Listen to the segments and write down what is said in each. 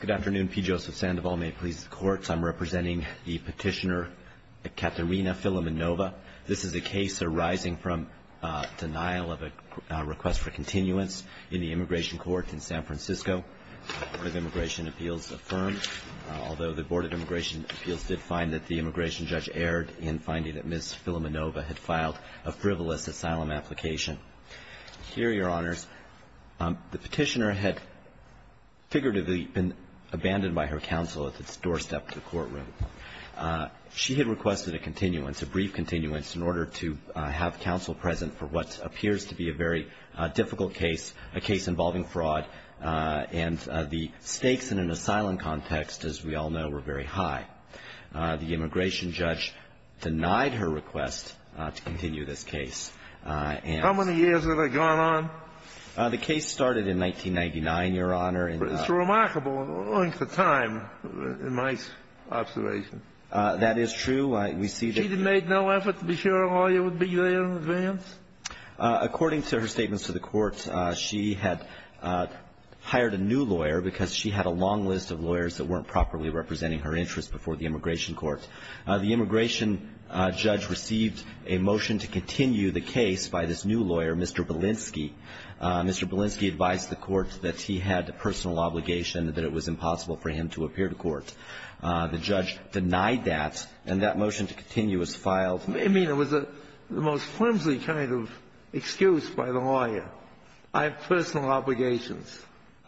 Good afternoon. P. Joseph Sandoval. May it please the courts, I'm representing the petitioner Katerina Filimonova. This is a case arising from denial of a request for continuance in the immigration court in San Francisco. The Board of Immigration Appeals affirmed, although the Board of Immigration Appeals did find that the immigration judge erred in finding that Ms. Filimonova had filed a frivolous asylum application. Here, Your Honors, the petitioner had figuratively been abandoned by her counsel at the doorstep to the courtroom. She had requested a continuance, a brief continuance, in order to have counsel present for what appears to be a very difficult case, a case involving fraud, and the stakes in an asylum context, as we all know, were very high. The immigration judge denied her request to continue this case. How many years had it gone on? The case started in 1999, Your Honor. It's remarkable, owing to time, in my observation. That is true. She made no effort to be sure a lawyer would be there in advance? According to her statements to the court, she had hired a new lawyer because she had a long list of lawyers that weren't properly representing her interests before the immigration court. The immigration judge received a motion to continue the case by this new lawyer, Mr. Belinsky. Mr. Belinsky advised the court that he had a personal obligation, that it was impossible for him to appear to court. The judge denied that, and that motion to continue was filed. I mean, it was the most flimsy kind of excuse by the lawyer. I have personal obligations.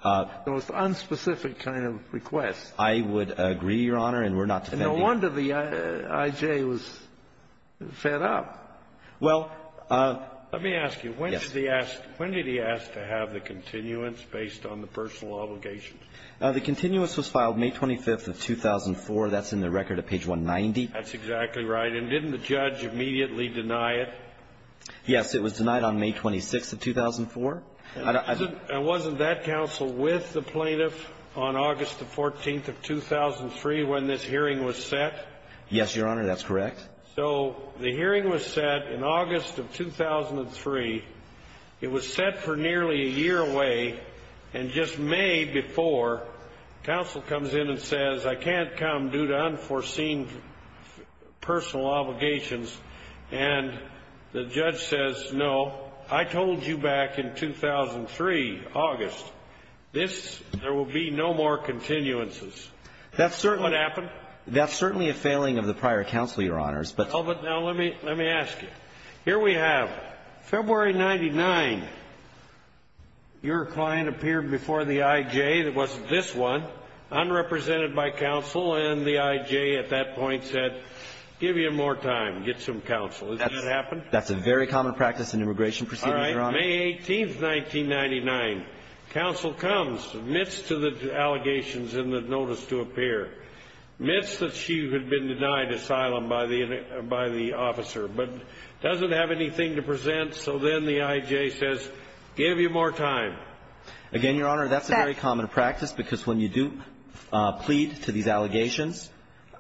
The most unspecific kind of request. I would agree, Your Honor, and we're not defending it. No wonder the I.J. was fed up. Well, let me ask you. Yes. When did he ask to have the continuance based on the personal obligations? The continuance was filed May 25th of 2004. That's in the record at page 190. That's exactly right. And didn't the judge immediately deny it? Yes. It was denied on May 26th of 2004. And wasn't that counsel with the plaintiff on August the 14th of 2003 when this hearing was set? Yes, Your Honor. That's correct. So the hearing was set in August of 2003. It was set for nearly a year away. And just May before, counsel comes in and says, I can't come due to unforeseen personal obligations. And the judge says, no, I told you back in 2003, August, this, there will be no more continuances. That's certainly. What happened? That's certainly a failing of the prior counsel, Your Honors. Oh, but now let me ask you. Here we have February 99. Your client appeared before the I.J. that wasn't this one, unrepresented by counsel, and the I.J. at that point said, give me more time, get some counsel. Isn't that what happened? That's a very common practice in immigration proceedings, Your Honor. All right. May 18th, 1999, counsel comes, admits to the allegations in the notice to appear, admits that she had been denied asylum by the officer, but doesn't have anything to present. So then the I.J. says, give me more time. Again, Your Honor, that's a very common practice because when you do plead to these allegations,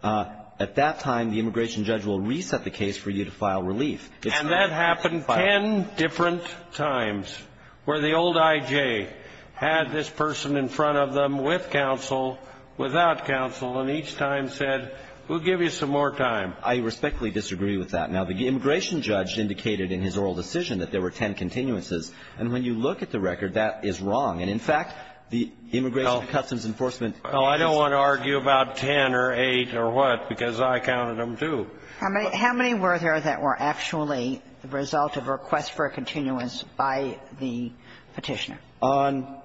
at that time, the immigration judge will reset the case for you to file relief. And that happened ten different times, where the old I.J. had this person in front of them with counsel, without counsel, and each time said, we'll give you some more time. I respectfully disagree with that. Now, the immigration judge indicated in his oral decision that there were ten continuances. And when you look at the record, that is wrong. And, in fact, the Immigration and Customs Enforcement agency ---- Well, I don't want to argue about ten or eight or what, because I counted them, too. How many were there that were actually the result of a request for a continuance by the Petitioner? On ----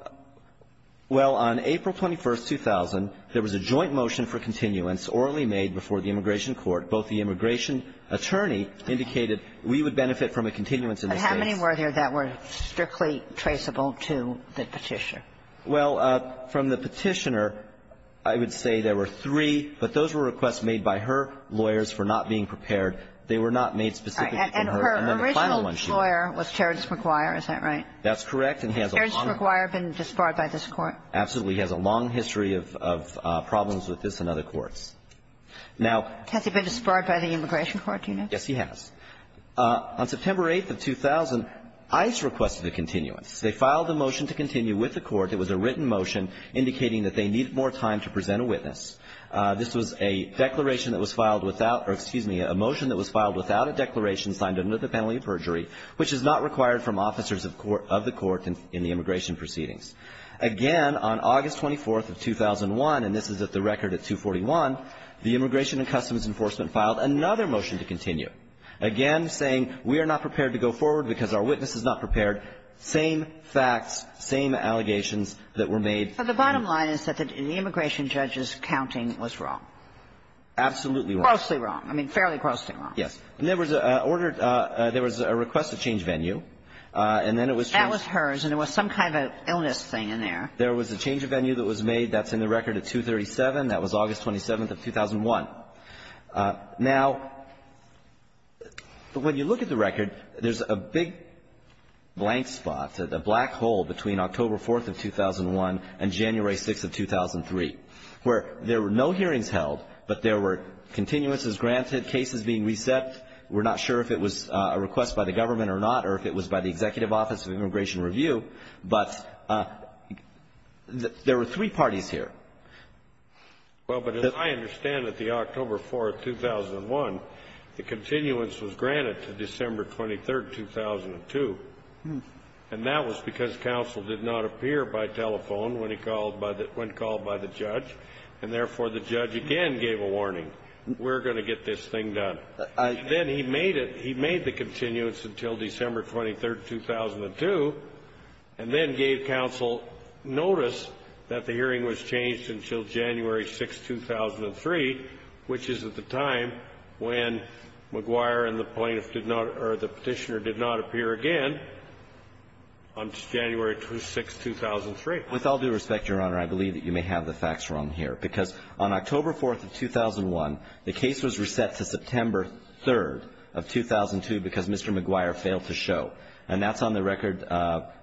well, on April 21, 2000, there was a joint motion for continuance orally made before the Immigration Court. Both the immigration attorney indicated we would benefit from a continuance in this case. But how many were there that were strictly traceable to the Petitioner? Well, from the Petitioner, I would say there were three, but those were requests made by her lawyers for not being prepared. They were not made specifically for her. And then the final one she ---- And her original lawyer was Terrence McGuire. Is that right? That's correct. And he has a long ---- Has Terrence McGuire been disbarred by this Court? Absolutely. He has a long history of problems with this and other courts. Now ---- Has he been disbarred by the Immigration Court, do you know? Yes, he has. On September 8th of 2000, ICE requested a continuance. They filed a motion to continue with the Court. It was a written motion indicating that they needed more time to present a witness. This was a declaration that was filed without or, excuse me, a motion that was filed without a declaration signed under the penalty of perjury, which is not required from officers of the Court in the immigration proceedings. Again, on August 24th of 2001, and this is at the record at 241, the Immigration and Customs Enforcement filed another motion to continue, again saying we are not prepared to go forward because our witness is not prepared. Same facts, same allegations that were made ---- The bottom line is that the immigration judge's counting was wrong. Absolutely wrong. Grossly wrong. I mean, fairly grossly wrong. Yes. And there was a request to change venue, and then it was changed. That was hers, and there was some kind of illness thing in there. There was a change of venue that was made. That's in the record at 237. That was August 27th of 2001. Now, when you look at the record, there's a big blank spot, a black hole, between October 4th of 2001 and January 6th of 2003, where there were no hearings held, but there were continuances granted, cases being reset. We're not sure if it was a request by the government or not, or if it was by the Executive Office of Immigration Review, but there were three parties here. Well, but as I understand it, the October 4th, 2001, the continuance was granted to December 23rd, 2002, and that was because counsel did not appear by telephone when he called by the ---- when called by the judge, and therefore, the judge again gave a warning. We're going to get this thing done. Then he made it ---- he made the continuance until December 23rd, 2002, and then gave counsel notice that the hearing was changed until January 6th, 2003, which is at the time when McGuire and the plaintiff did not or the Petitioner did not appear again until January 6th, 2003. With all due respect, Your Honor, I believe that you may have the facts wrong here. Because on October 4th of 2001, the case was reset to September 3rd of 2002 because Mr. McGuire failed to show, and that's on the record,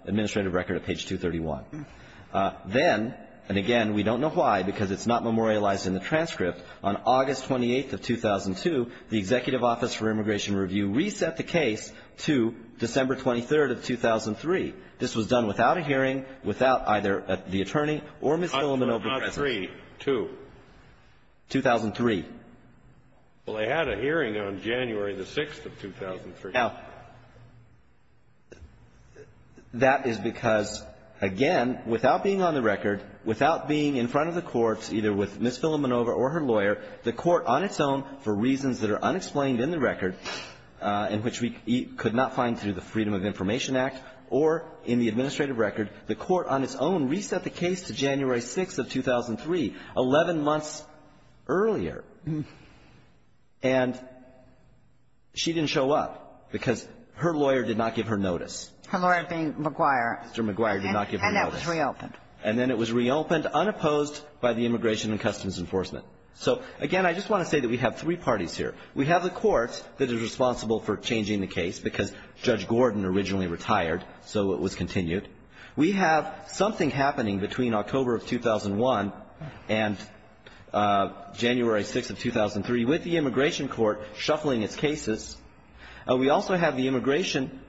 administrative record at page 231. Then, and again, we don't know why, because it's not memorialized in the transcript. On August 28th of 2002, the Executive Office for Immigration Review reset the case to December 23rd of 2003. This was done without a hearing, without either the attorney or Ms. Filamenova present. Kennedy. Two. Well, they had a hearing on January 6th of 2003. Now, that is because, again, without being on the record, without being in front of the courts, either with Ms. Filamenova or her lawyer, the court on its own, for reasons that are unexplained in the record, in which we could not find through the Freedom of Information Act, or in the administrative record, the court on its own reset the case to January 6th of 2003, 11 months earlier. And she didn't show up because her lawyer did not give her notice. Her lawyer being McGuire. Mr. McGuire did not give her notice. And that was reopened. And then it was reopened unopposed by the Immigration and Customs Enforcement. So, again, I just want to say that we have three parties here. We have the court that is responsible for changing the case because Judge Gordon originally retired, so it was continued. We have something happening between October of 2001 and January 6th of 2003 with the immigration court shuffling its cases. We also have the immigration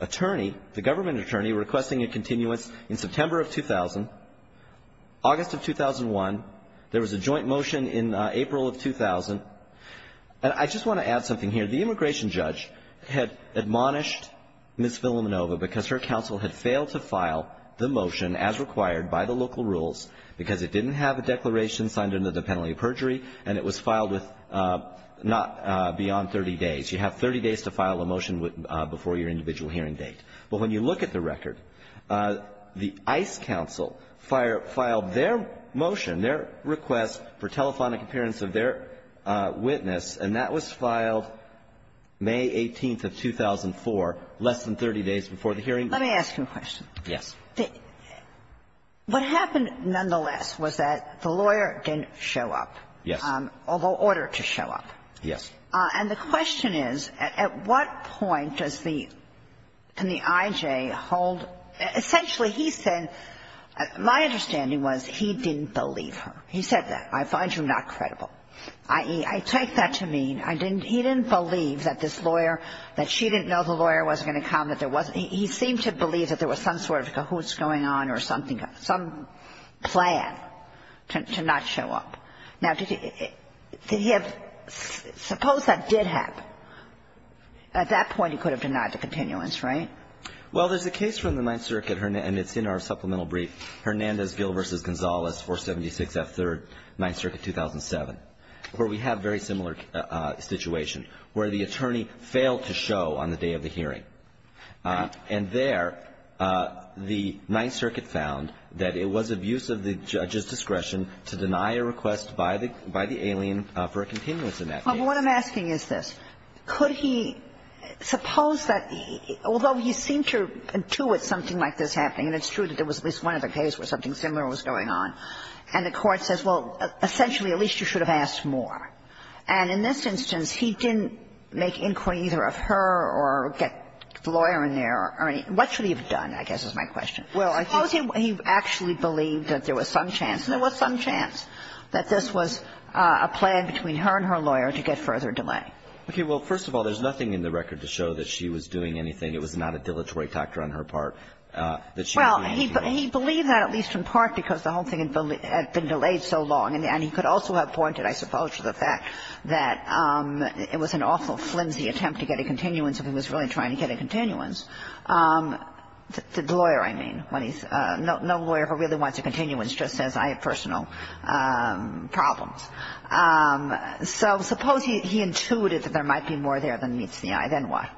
attorney, the government attorney, requesting a motion in April of 2000, August of 2001. There was a joint motion in April of 2000. And I just want to add something here. The immigration judge had admonished Ms. Vilamenova because her counsel had failed to file the motion as required by the local rules because it didn't have a declaration signed under the penalty of perjury and it was filed with not beyond 30 days. You have 30 days to file a motion before your individual hearing date. Well, when you look at the record, the ICE counsel filed their motion, their request for telephonic appearance of their witness, and that was filed May 18th of 2004, less than 30 days before the hearing date. Let me ask you a question. Yes. What happened, nonetheless, was that the lawyer didn't show up. Yes. Although ordered to show up. Yes. And the question is, at what point does the IJ hold – essentially, he said – my understanding was he didn't believe her. He said that. I find you not credible. I take that to mean I didn't – he didn't believe that this lawyer, that she didn't know the lawyer was going to come, that there wasn't – he seemed to believe that there was some sort of cahoots going on or something, some plan to not show up. Now, did he – did he have – suppose that did happen. At that point, he could have denied the continuance, right? Well, there's a case from the Ninth Circuit, and it's in our supplemental brief, Hernandez-Gil v. Gonzalez, 476 F. 3rd, Ninth Circuit, 2007, where we have very similar situation, where the attorney failed to show on the day of the hearing. And there, the Ninth Circuit found that it was abuse of the judge's discretion to deny a request by the – by the alien for a continuance in that case. Well, what I'm asking is this. Could he – suppose that – although he seemed to intuit something like this happening, and it's true that there was at least one other case where something similar was going on, and the Court says, well, essentially, at least you should have asked more. And in this instance, he didn't make inquiry either of her or get the lawyer in there or any – what should he have done, I guess, is my question. Well, I think – Suppose he actually believed that there was some chance. There was some chance that this was a plan between her and her lawyer to get further delay. Okay. Well, first of all, there's nothing in the record to show that she was doing anything. It was not a dilatory factor on her part, that she was doing anything. Well, he – he believed that, at least in part, because the whole thing had been delayed so long. And he could also have pointed, I suppose, to the fact that it was an awful flimsy attempt to get a continuance if he was really trying to get a continuance. The lawyer, I mean, when he's – no lawyer ever really wants a continuance, just says, I have personal problems. So suppose he intuited that there might be more there than meets the eye. Then what?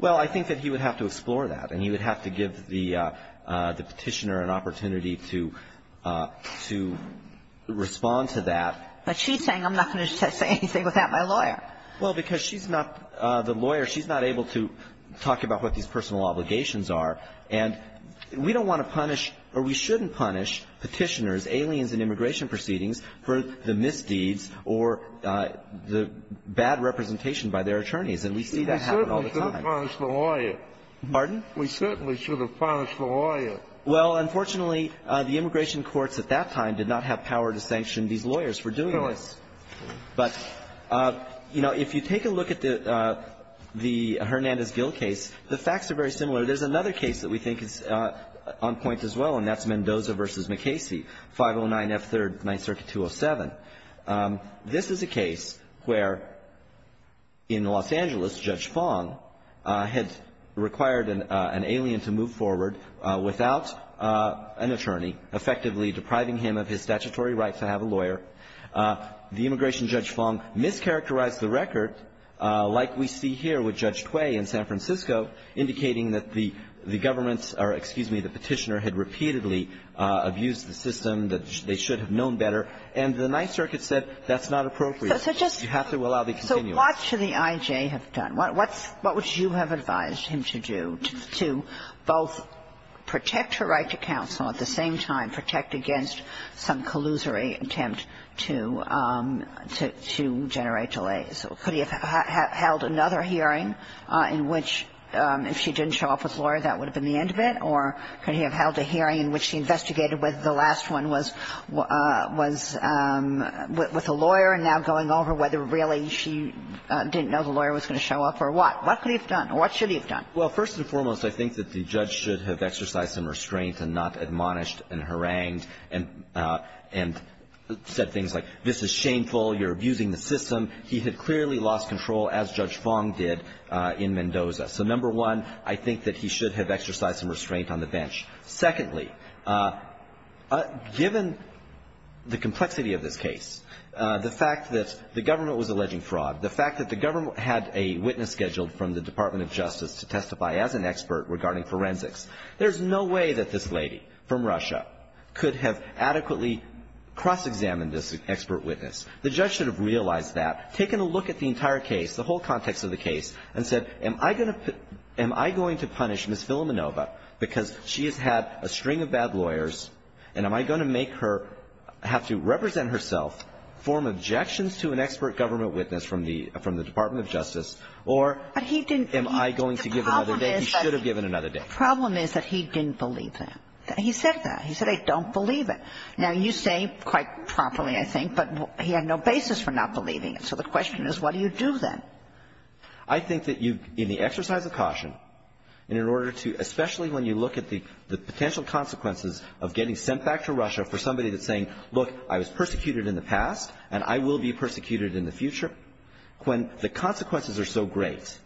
Well, I think that he would have to explore that. And he would have to give the petitioner an opportunity to respond to that. But she's saying, I'm not going to say anything without my lawyer. Well, because she's not the lawyer. She's not able to talk about what these personal obligations are. And we don't want to punish, or we shouldn't punish, petitioners, aliens in immigration proceedings for the misdeeds or the bad representation by their attorneys. And we see that happen all the time. We certainly shouldn't punish the lawyer. Pardon? We certainly should have punished the lawyer. Well, unfortunately, the immigration courts at that time did not have power to sanction these lawyers for doing this. But, you know, if you take a look at the – the Hernandez-Gill case, the facts are very similar. There's another case that we think is on point as well, and that's Mendoza versus McKasey, 509F3rd, 9th Circuit, 207. This is a case where, in Los Angeles, Judge Fong had required an alien to move forward without an attorney, effectively depriving him of his statutory right to have a lawyer. The immigration judge, Fong, mischaracterized the record like we see here with Judge Cui in San Francisco, indicating that the government or, excuse me, the petitioner had repeatedly abused the system, that they should have known better. And the 9th Circuit said that's not appropriate. You have to allow the continuance. So what should the I.J. have done? What would you have advised him to do to both protect her right to counsel, at the same time protect against some collusory attempt to generate delays? Could he have held another hearing in which, if she didn't show up with a lawyer, that would have been the end of it? Or could he have held a hearing in which he investigated whether the last one was with a lawyer, and now going over whether really she didn't know the lawyer was going to show up, or what? What could he have done? Or what should he have done? Well, first and foremost, I think that the judge should have exercised some restraint and not admonished and harangued and said things like, this is shameful, you're abusing the system. He had clearly lost control, as Judge Fong did in Mendoza. So, number one, I think that he should have exercised some restraint on the bench. Secondly, given the complexity of this case, the fact that the government was alleging fraud, the fact that the government had a witness scheduled from the Department of Justice to testify as an expert regarding forensics, there's no way that this lady from Russia could have adequately cross-examined this expert witness. The judge should have realized that, taken a look at the entire case, the whole context of the case, and said, am I going to punish Ms. Filamenova because she has had a string of bad lawyers, and am I going to make her have to represent herself, form objections to an expert government witness from the Department of Justice, or am I going to give another day? He should have given another day. The problem is that he didn't believe that. He said that. He said, I don't believe it. Now, you say quite properly, I think, but he had no basis for not believing it. So the question is, what do you do then? I think that you, in the exercise of caution, and in order to – especially when you look at the potential consequences of getting sent back to Russia for somebody that's saying, look, I was persecuted in the past, and I will be persecuted in the future, when the consequences are so great,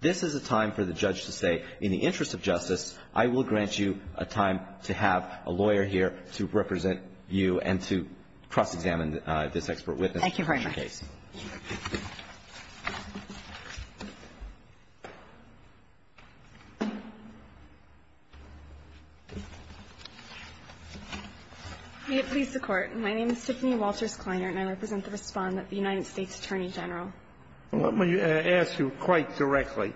this is a time for the judge to say, in the interest of justice, I will grant you a time to have a lawyer here to represent you and to cross-examine this expert witness. Thank you very much. May it please the Court. My name is Tiffany Walters Kleiner, and I represent the Respondent of the United States Attorney General. Let me ask you quite directly.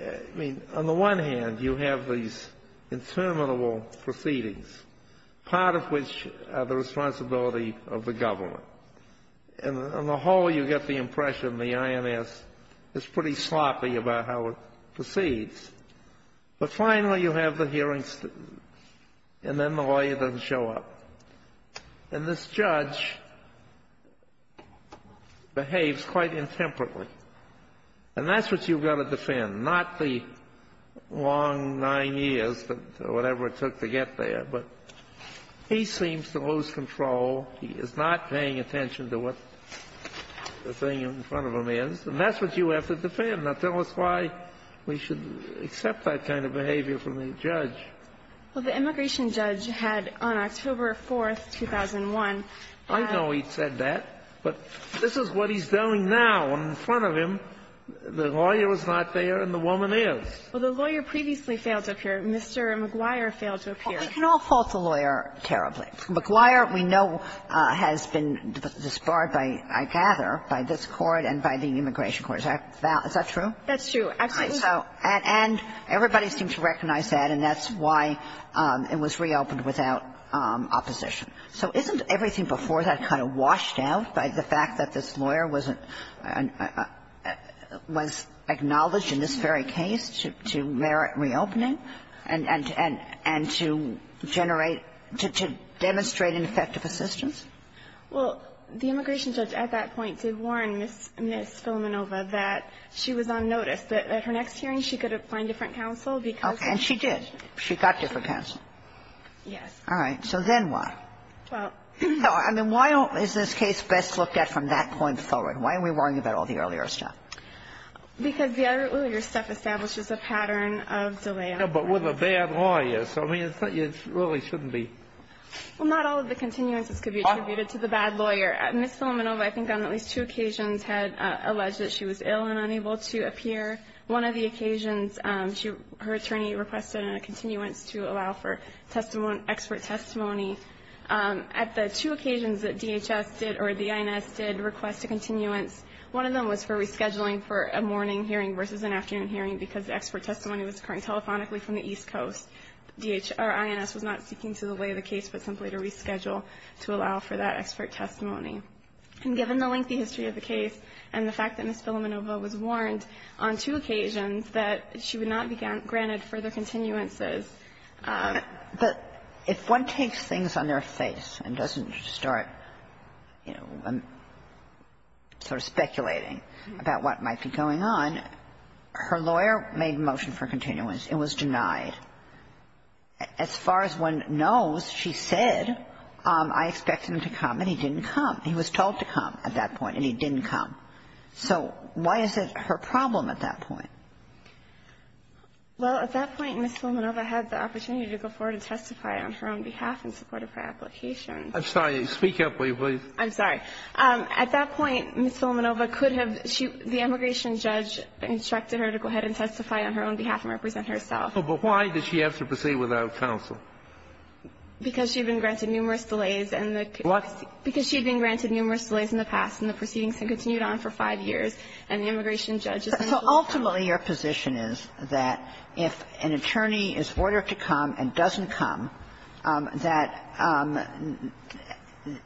I mean, on the one hand, you have these interminable proceedings, part of which are the responsibility of the government. And on the whole, you get the impression the INS is pretty sloppy about how it proceeds. But finally, you have the hearings, and then the lawyer doesn't show up. And this judge behaves quite intemperately. And that's what you've got to defend, not the long nine years or whatever it took to get there. But he seems to lose control. He is not paying attention to what the thing in front of him is. And that's what you have to defend. Now, tell us why we should accept that kind of behavior from the judge. Well, the immigration judge had, on October 4, 2001 ---- I know he said that. But this is what he's doing now. And in front of him, the lawyer is not there, and the woman is. Well, the lawyer previously failed to appear. Mr. McGuire failed to appear. We can all fault the lawyer terribly. McGuire, we know, has been disbarred by, I gather, by this Court and by the immigration court. Is that true? That's true, absolutely. And everybody seems to recognize that, and that's why it was reopened without opposition. So isn't everything before that kind of washed out by the fact that this lawyer was acknowledged in this very case to merit reopening and to generate, to demonstrate an effect of assistance? Well, the immigration judge at that point did warn Ms. Filamenova that she was on notice, that at her next hearing she could find different counsel because of ---- And she did. She got different counsel. Yes. All right. So then what? Well, I mean, why is this case best looked at from that point forward? Why are we worrying about all the earlier stuff? Because the earlier stuff establishes a pattern of delay. Yeah, but with a bad lawyer. So I mean, it really shouldn't be ---- Well, not all of the continuances could be attributed to the bad lawyer. Ms. Filamenova, I think on at least two occasions, had alleged that she was ill and unable to appear. One of the occasions, her attorney requested a continuance to allow for expert testimony. At the two occasions that DHS did or the INS did request a continuance, one of them was for rescheduling for a morning hearing versus an afternoon hearing because the expert testimony was occurring telephonically from the East Coast. Our INS was not seeking to delay the case, but simply to reschedule to allow for that expert testimony. And given the lengthy history of the case and the fact that Ms. Filamenova was warned on two occasions that she would not be granted further continuances. But if one takes things on their face and doesn't start, you know, sort of speculating about what might be going on, her lawyer made motion for continuance. It was denied. As far as one knows, she said, I expect him to come, and he didn't come. He was told to come at that point, and he didn't come. So why is it her problem at that point? Well, at that point, Ms. Filamenova had the opportunity to go forward and testify on her own behalf in support of her application. I'm sorry. Speak up, will you, please? I'm sorry. At that point, Ms. Filamenova could have the immigration judge instructed her to go ahead and testify on her own behalf and represent herself. But why did she have to proceed without counsel? Because she had been granted numerous delays in the past, and the proceedings had continued on for five years. And the immigration judge. So ultimately, your position is that if an attorney is ordered to come and doesn't come, that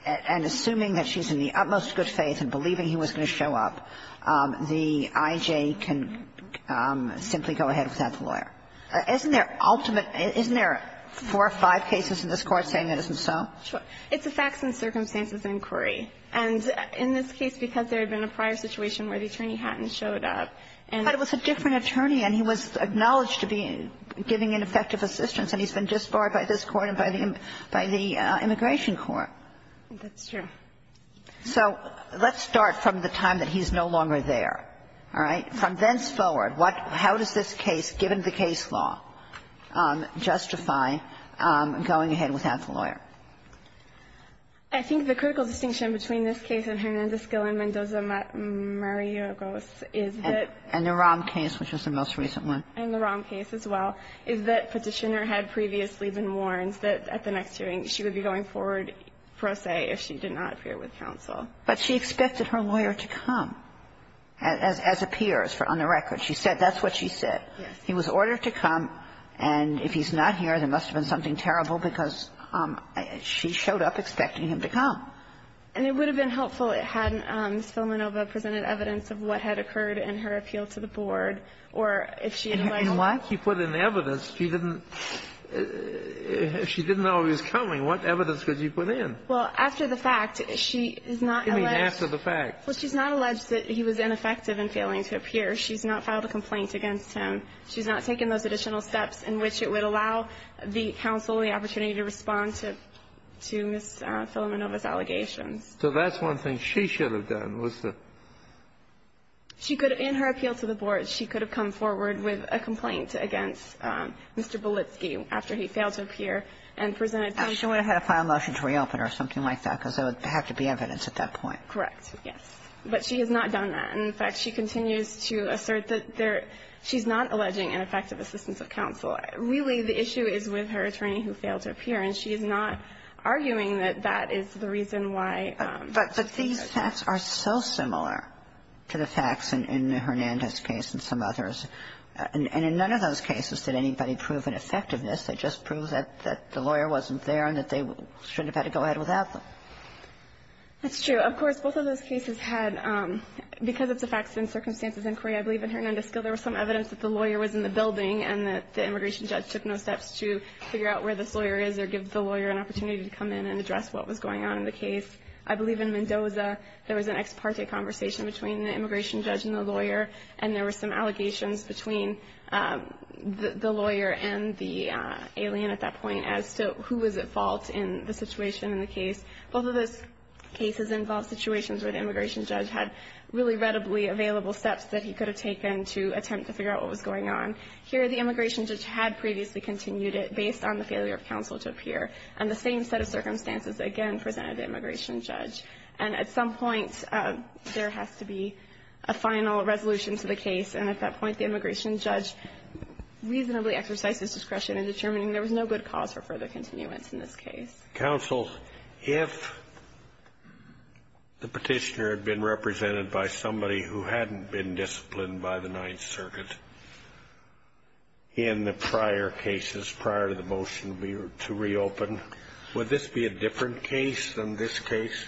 and assuming that she's in the utmost good faith and believing he was going to show up, the I.J. can simply go ahead without the lawyer. Isn't there ultimate – isn't there four or five cases in this Court saying that isn't so? Sure. It's a facts and circumstances inquiry. But it was a different attorney, and he was acknowledged to be giving ineffective assistance, and he's been disbarred by this Court and by the immigration court. That's true. So let's start from the time that he's no longer there, all right? From thenceforward, how does this case, given the case law, justify going ahead without the lawyer? I think the critical distinction between this case and Hernandez-Gil and Mendoza- And the Rahm case, which was the most recent one. And the Rahm case as well, is that Petitioner had previously been warned that at the next hearing, she would be going forward pro se if she did not appear with counsel. But she expected her lawyer to come, as appears on the record. She said that's what she said. He was ordered to come, and if he's not here, there must have been something terrible because she showed up expecting him to come. And it would have been helpful had Ms. Filamenova presented evidence of what had occurred in her appeal to the board, or if she had invited him. And what? She put in evidence. She didn't know he was coming. What evidence could you put in? Well, after the fact, she is not alleged to be. Give me after the fact. Well, she's not alleged that he was ineffective in failing to appear. She's not filed a complaint against him. She's not taken those additional steps in which it would allow the counsel the So that's one thing she should have done, was the ---- She could have, in her appeal to the board, she could have come forward with a complaint against Mr. Bulitsky after he failed to appear and presented evidence. She would have had a final motion to reopen or something like that, because there would have to be evidence at that point. Correct. Yes. But she has not done that. And, in fact, she continues to assert that there ---- she's not alleging ineffective assistance of counsel. Really, the issue is with her attorney who failed to appear. And she is not arguing that that is the reason why ---- But these facts are so similar to the facts in Hernandez's case and some others. And in none of those cases did anybody prove an effectiveness. They just proved that the lawyer wasn't there and that they shouldn't have had to go ahead without them. That's true. Of course, both of those cases had, because of the facts and circumstances inquiry, I believe in Hernandez's case there was some evidence that the lawyer was in the building and that the immigration judge took no steps to figure out where this lawyer is or give the lawyer an opportunity to come in and address what was going on in the case. I believe in Mendoza there was an ex parte conversation between the immigration judge and the lawyer. And there were some allegations between the lawyer and the alien at that point as to who was at fault in the situation in the case. Both of those cases involved situations where the immigration judge had really readily available steps that he could have taken to attempt to figure out what was going on. Here, the immigration judge had previously continued it based on the failure of counsel to appear. And the same set of circumstances, again, presented the immigration judge. And at some point, there has to be a final resolution to the case. And at that point, the immigration judge reasonably exercised his discretion in determining there was no good cause for further continuance in this case. Kennedy, counsel, if the Petitioner had been represented by somebody who hadn't been disciplined by the Ninth Circuit in the prior cases, prior to the motion to reopen, would this be a different case than this case?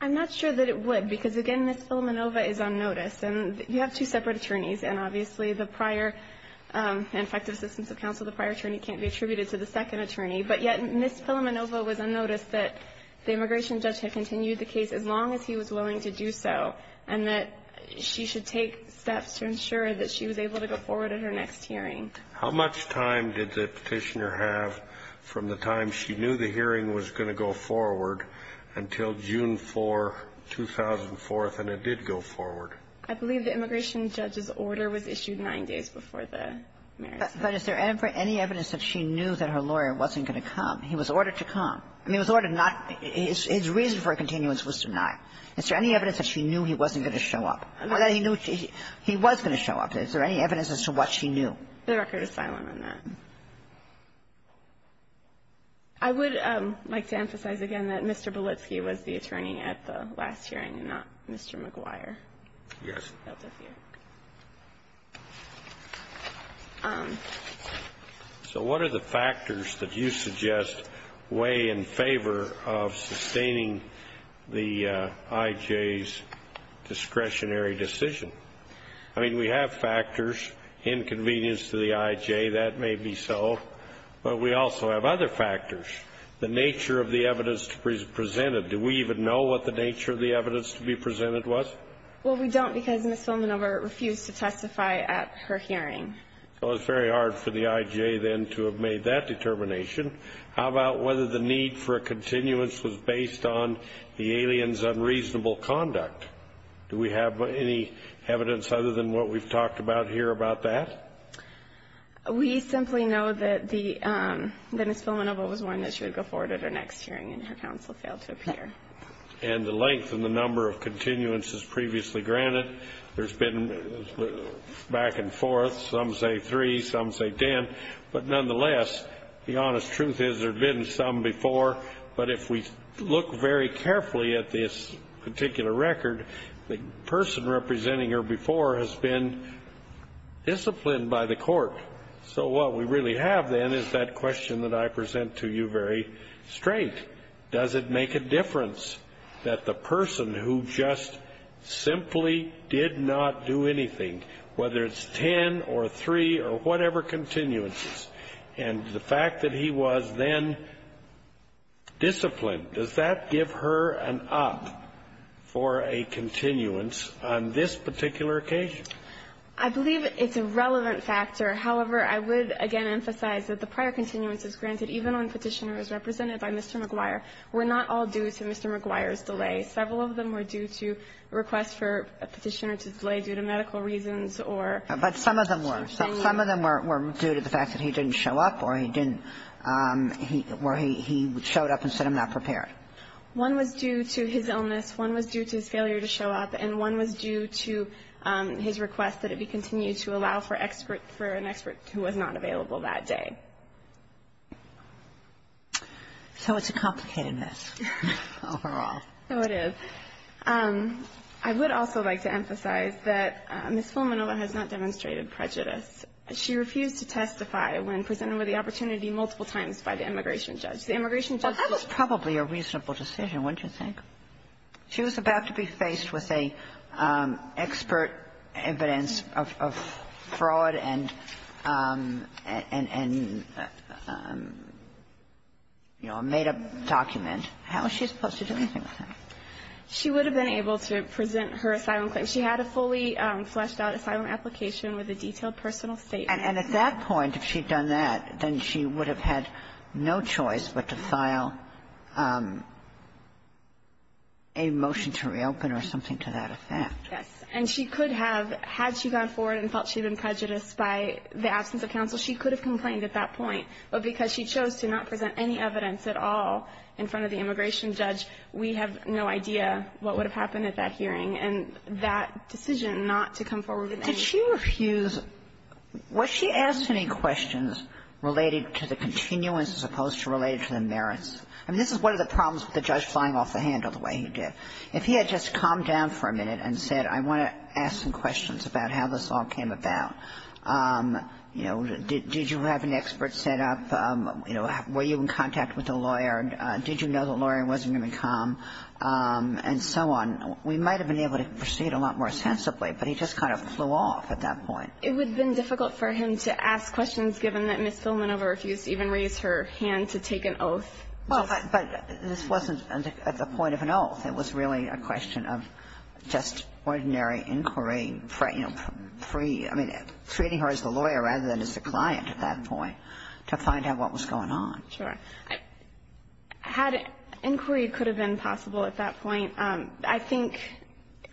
I'm not sure that it would, because, again, Ms. Filamenova is unnoticed. And you have two separate attorneys. And obviously, the prior and effective assistance of counsel, the prior attorney can't be attributed to the second attorney. But yet, Ms. Filamenova was unnoticed, that the immigration judge had continued the case as long as he was willing to do so, and that she should take steps to ensure that she was able to go forward at her next hearing. How much time did the Petitioner have from the time she knew the hearing was going to go forward until June 4, 2004, and it did go forward? I believe the immigration judge's order was issued nine days before the marriage. But is there ever any evidence that she knew that her lawyer wasn't going to come? He was ordered to come. I mean, he was ordered not to come. His reason for a continuance was denied. Is there any evidence that she knew he wasn't going to show up? Or that he knew he was going to show up? Is there any evidence as to what she knew? The record is silent on that. I would like to emphasize again that Mr. Belitsky was the attorney at the last hearing and not Mr. McGuire. Yes. So what are the factors that you suggest weigh in favor of sustaining the I.J.'s discretionary decision? I mean, we have factors, inconvenience to the I.J., that may be so. But we also have other factors, the nature of the evidence presented. Do we even know what the nature of the evidence to be presented was? Well, we don't because Ms. Filamenova refused to testify at her hearing. So it's very hard for the I.J., then, to have made that determination. How about whether the need for a continuance was based on the alien's unreasonable conduct? Do we have any evidence other than what we've talked about here about that? We simply know that the Ms. Filamenova was warned that she would go forward at her next hearing, and her counsel failed to appear. And the length and the number of continuances previously granted, there's been back and forth. Some say three, some say ten. But nonetheless, the honest truth is there have been some before. But if we look very carefully at this particular record, the person representing her before has been disciplined by the court. So what we really have, then, is that question that I present to you very straight. Does it make a difference that the person who just simply did not do anything, whether it's ten or three or whatever continuances, and the fact that he was then disciplined, does that give her an up for a continuance on this particular occasion? I believe it's a relevant factor. However, I would, again, emphasize that the prior continuance is granted even on Petitioner A's, represented by Mr. McGuire, were not all due to Mr. McGuire's delay. Several of them were due to a request for a Petitioner to delay due to medical reasons or to show up. But some of them were. Some of them were due to the fact that he didn't show up or he didn't or he showed up and said, I'm not prepared. One was due to his illness, one was due to his failure to show up, and one was due to his request that it be continued to allow for an expert who was not available that day. So it's a complicated mess overall. No, it is. I would also like to emphasize that Ms. Fulminova has not demonstrated prejudice. She refused to testify when presented with the opportunity multiple times by the immigration The immigration judge was the judge. Well, that was probably a reasonable decision, wouldn't you think? She was about to be faced with a expert evidence of fraud and, you know, a made-up document. How was she supposed to do anything with that? She would have been able to present her asylum claim. She had a fully fleshed-out asylum application with a detailed personal statement. And at that point, if she had done that, then she would have had no choice but to file a motion to reopen or something to that effect. Yes. And she could have, had she gone forward and felt she had been prejudiced by the absence of counsel, she could have complained at that point. But because she chose to not present any evidence at all in front of the immigration judge, we have no idea what would have happened at that hearing. And that decision not to come forward with any of that. Did she refuse to do that? Was she asked any questions related to the continuance as opposed to related to the merits? I mean, this is one of the problems with the judge flying off the handle the way he did. If he had just calmed down for a minute and said, I want to ask some questions about how this all came about, you know, did you have an expert set up, you know, were you in contact with a lawyer, did you know the lawyer wasn't going to come, and so on, we might have been able to proceed a lot more sensibly. But he just kind of flew off at that point. It would have been difficult for him to ask questions given that Ms. Filman never refused to even raise her hand to take an oath. Well, but this wasn't at the point of an oath. It was really a question of just ordinary inquiry, you know, free, I mean, treating her as the lawyer rather than as the client at that point to find out what was going on. Sure. Had inquiry could have been possible at that point. I think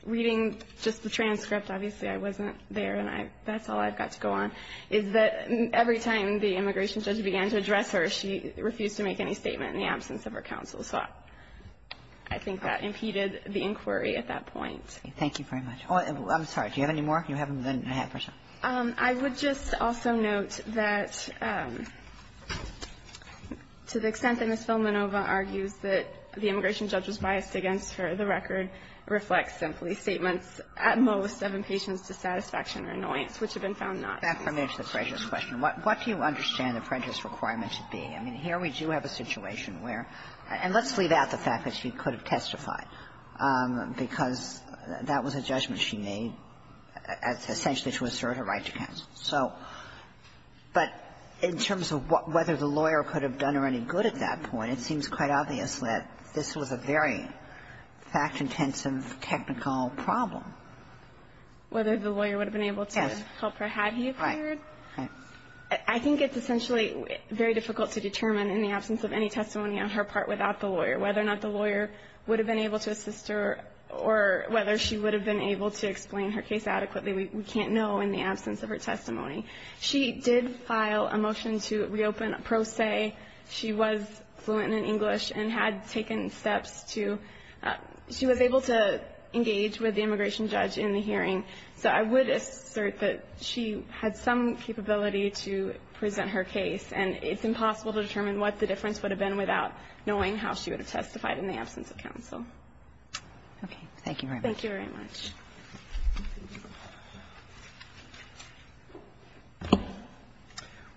reading just the transcript, obviously I wasn't there, and that's all I've got to go on, is that every time the immigration judge began to address her, she refused to make any statement in the absence of her counsel, so I think that impeded the inquiry at that point. Thank you very much. I'm sorry. Do you have any more? You haven't done a half percent. I would just also note that to the extent that Ms. Filmanova argues that the immigration judge was biased against her, the record reflects simply statements at most of impatience to satisfaction or annoyance, which have been found not to be. Back to the prejudice question. What do you understand the prejudice requirement should be? I mean, here we do have a situation where – and let's leave out the fact that she could have testified, because that was a judgment she made essentially to assert her right to counsel. So – but in terms of whether the lawyer could have done her any good at that point, it seems quite obvious that this was a very fact-intensive technical problem. Whether the lawyer would have been able to help her had he applied? I think it's essentially very difficult to determine in the absence of any testimony on her part without the lawyer, whether or not the lawyer would have been able to assist her or whether she would have been able to explain her case adequately. We can't know in the absence of her testimony. She did file a motion to reopen a pro se. She was fluent in English and had taken steps to – she was able to engage with the immigration judge in the hearing. So I would assert that she had some capability to present her case. And it's impossible to determine what the difference would have been without knowing how she would have testified in the absence of counsel. Okay. Thank you very much. Thank you very much.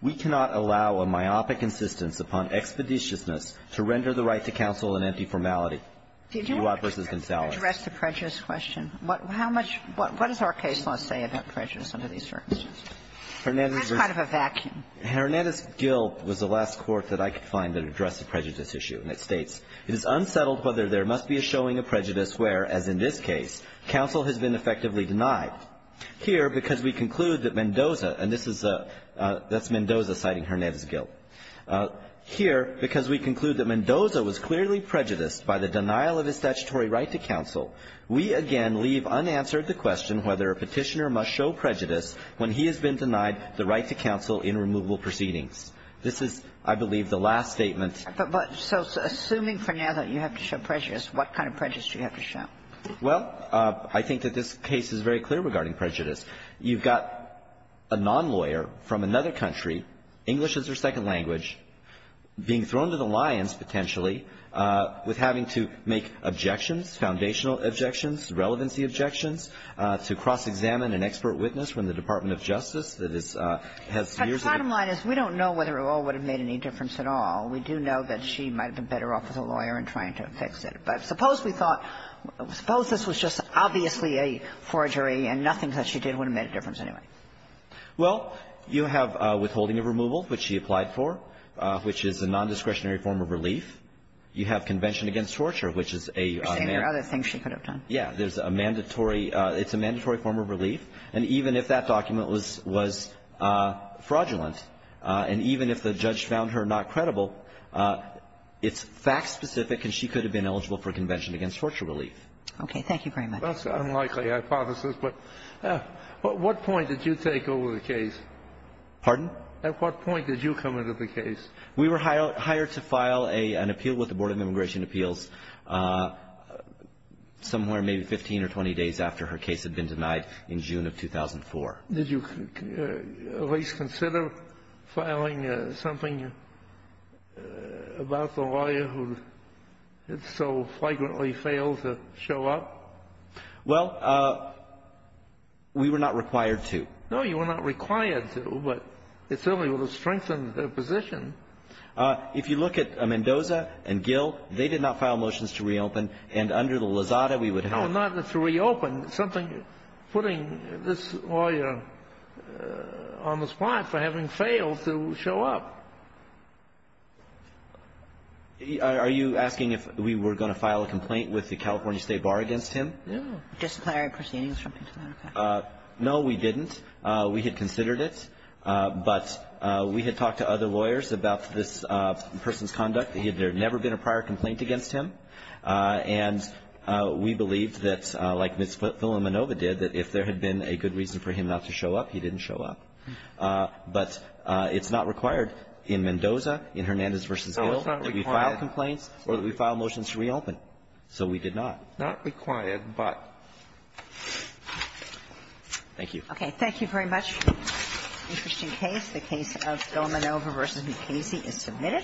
We cannot allow a myopic insistence upon expeditiousness to render the right to counsel an empty formality. Uott v. Gonzalez. Did you want to address the prejudice question? How much – what does our case law say about prejudice under these circumstances? That's kind of a vacuum. Hernandez's guilt was the last court that I could find that addressed the prejudice issue. And it states, It is unsettled whether there must be a showing of prejudice where, as in this case, counsel has been effectively denied. Here, because we conclude that Mendoza – and this is a – that's Mendoza citing Hernandez's guilt. Here, because we conclude that Mendoza was clearly prejudiced by the denial of his statutory right to counsel, we again leave unanswered the question whether a Petitioner must show prejudice when he has been denied the right to counsel in removable proceedings. This is, I believe, the last statement. But – but so assuming for now that you have to show prejudice, what kind of prejudice do you have to show? Well, I think that this case is very clear regarding prejudice. You've got a nonlawyer from another country, English as their second language, being thrown to the lions, potentially, with having to make objections, foundational objections, relevancy objections, to cross-examine an expert witness from the Department of Justice that is – has years of experience. But the bottom line is we don't know whether it all would have made any difference at all. We do know that she might have been better off as a lawyer in trying to fix it. But suppose we thought – suppose this was just obviously a forgery and nothing that she did would have made a difference anyway. Well, you have withholding of removal, which she applied for, which is a nondiscretionary form of relief. You have Convention Against Torture, which is a – You're saying there are other things she could have done. Yeah. There's a mandatory – it's a mandatory form of relief. And even if that document was – was fraudulent, and even if the judge found her not credible, it's fact-specific, and she could have been eligible for Convention Against Torture relief. Okay. Thank you very much. That's an unlikely hypothesis, but at what point did you take over the case? Pardon? At what point did you come into the case? We were hired to file an appeal with the Board of Immigration Appeals somewhere maybe 15 or 20 days after her case had been denied in June of 2004. Did you at least consider filing something about the lawyer who had so flagrantly failed to show up? Well, we were not required to. No, you were not required to, but it certainly would have strengthened her position. If you look at Mendoza and Gill, they did not file motions to reopen, and under the Lozada, we would have – No, not to reopen. Something putting this lawyer on the spot for having failed to show up. Are you asking if we were going to file a complaint with the California State Bar against him? No. A disclosure of proceedings or something to that effect. No, we didn't. We had considered it, but we had talked to other lawyers about this person's conduct. There had never been a prior complaint against him, and we believed that, like Ms. Villanueva did, that if there had been a good reason for him not to show up, he didn't show up. But it's not required in Mendoza, in Hernandez v. Gill, that we file complaints or that we file motions to reopen. So we did not. Not required, but… Thank you. Okay. Thank you very much. Interesting case. The case of Villanueva v. McKaysey is submitted.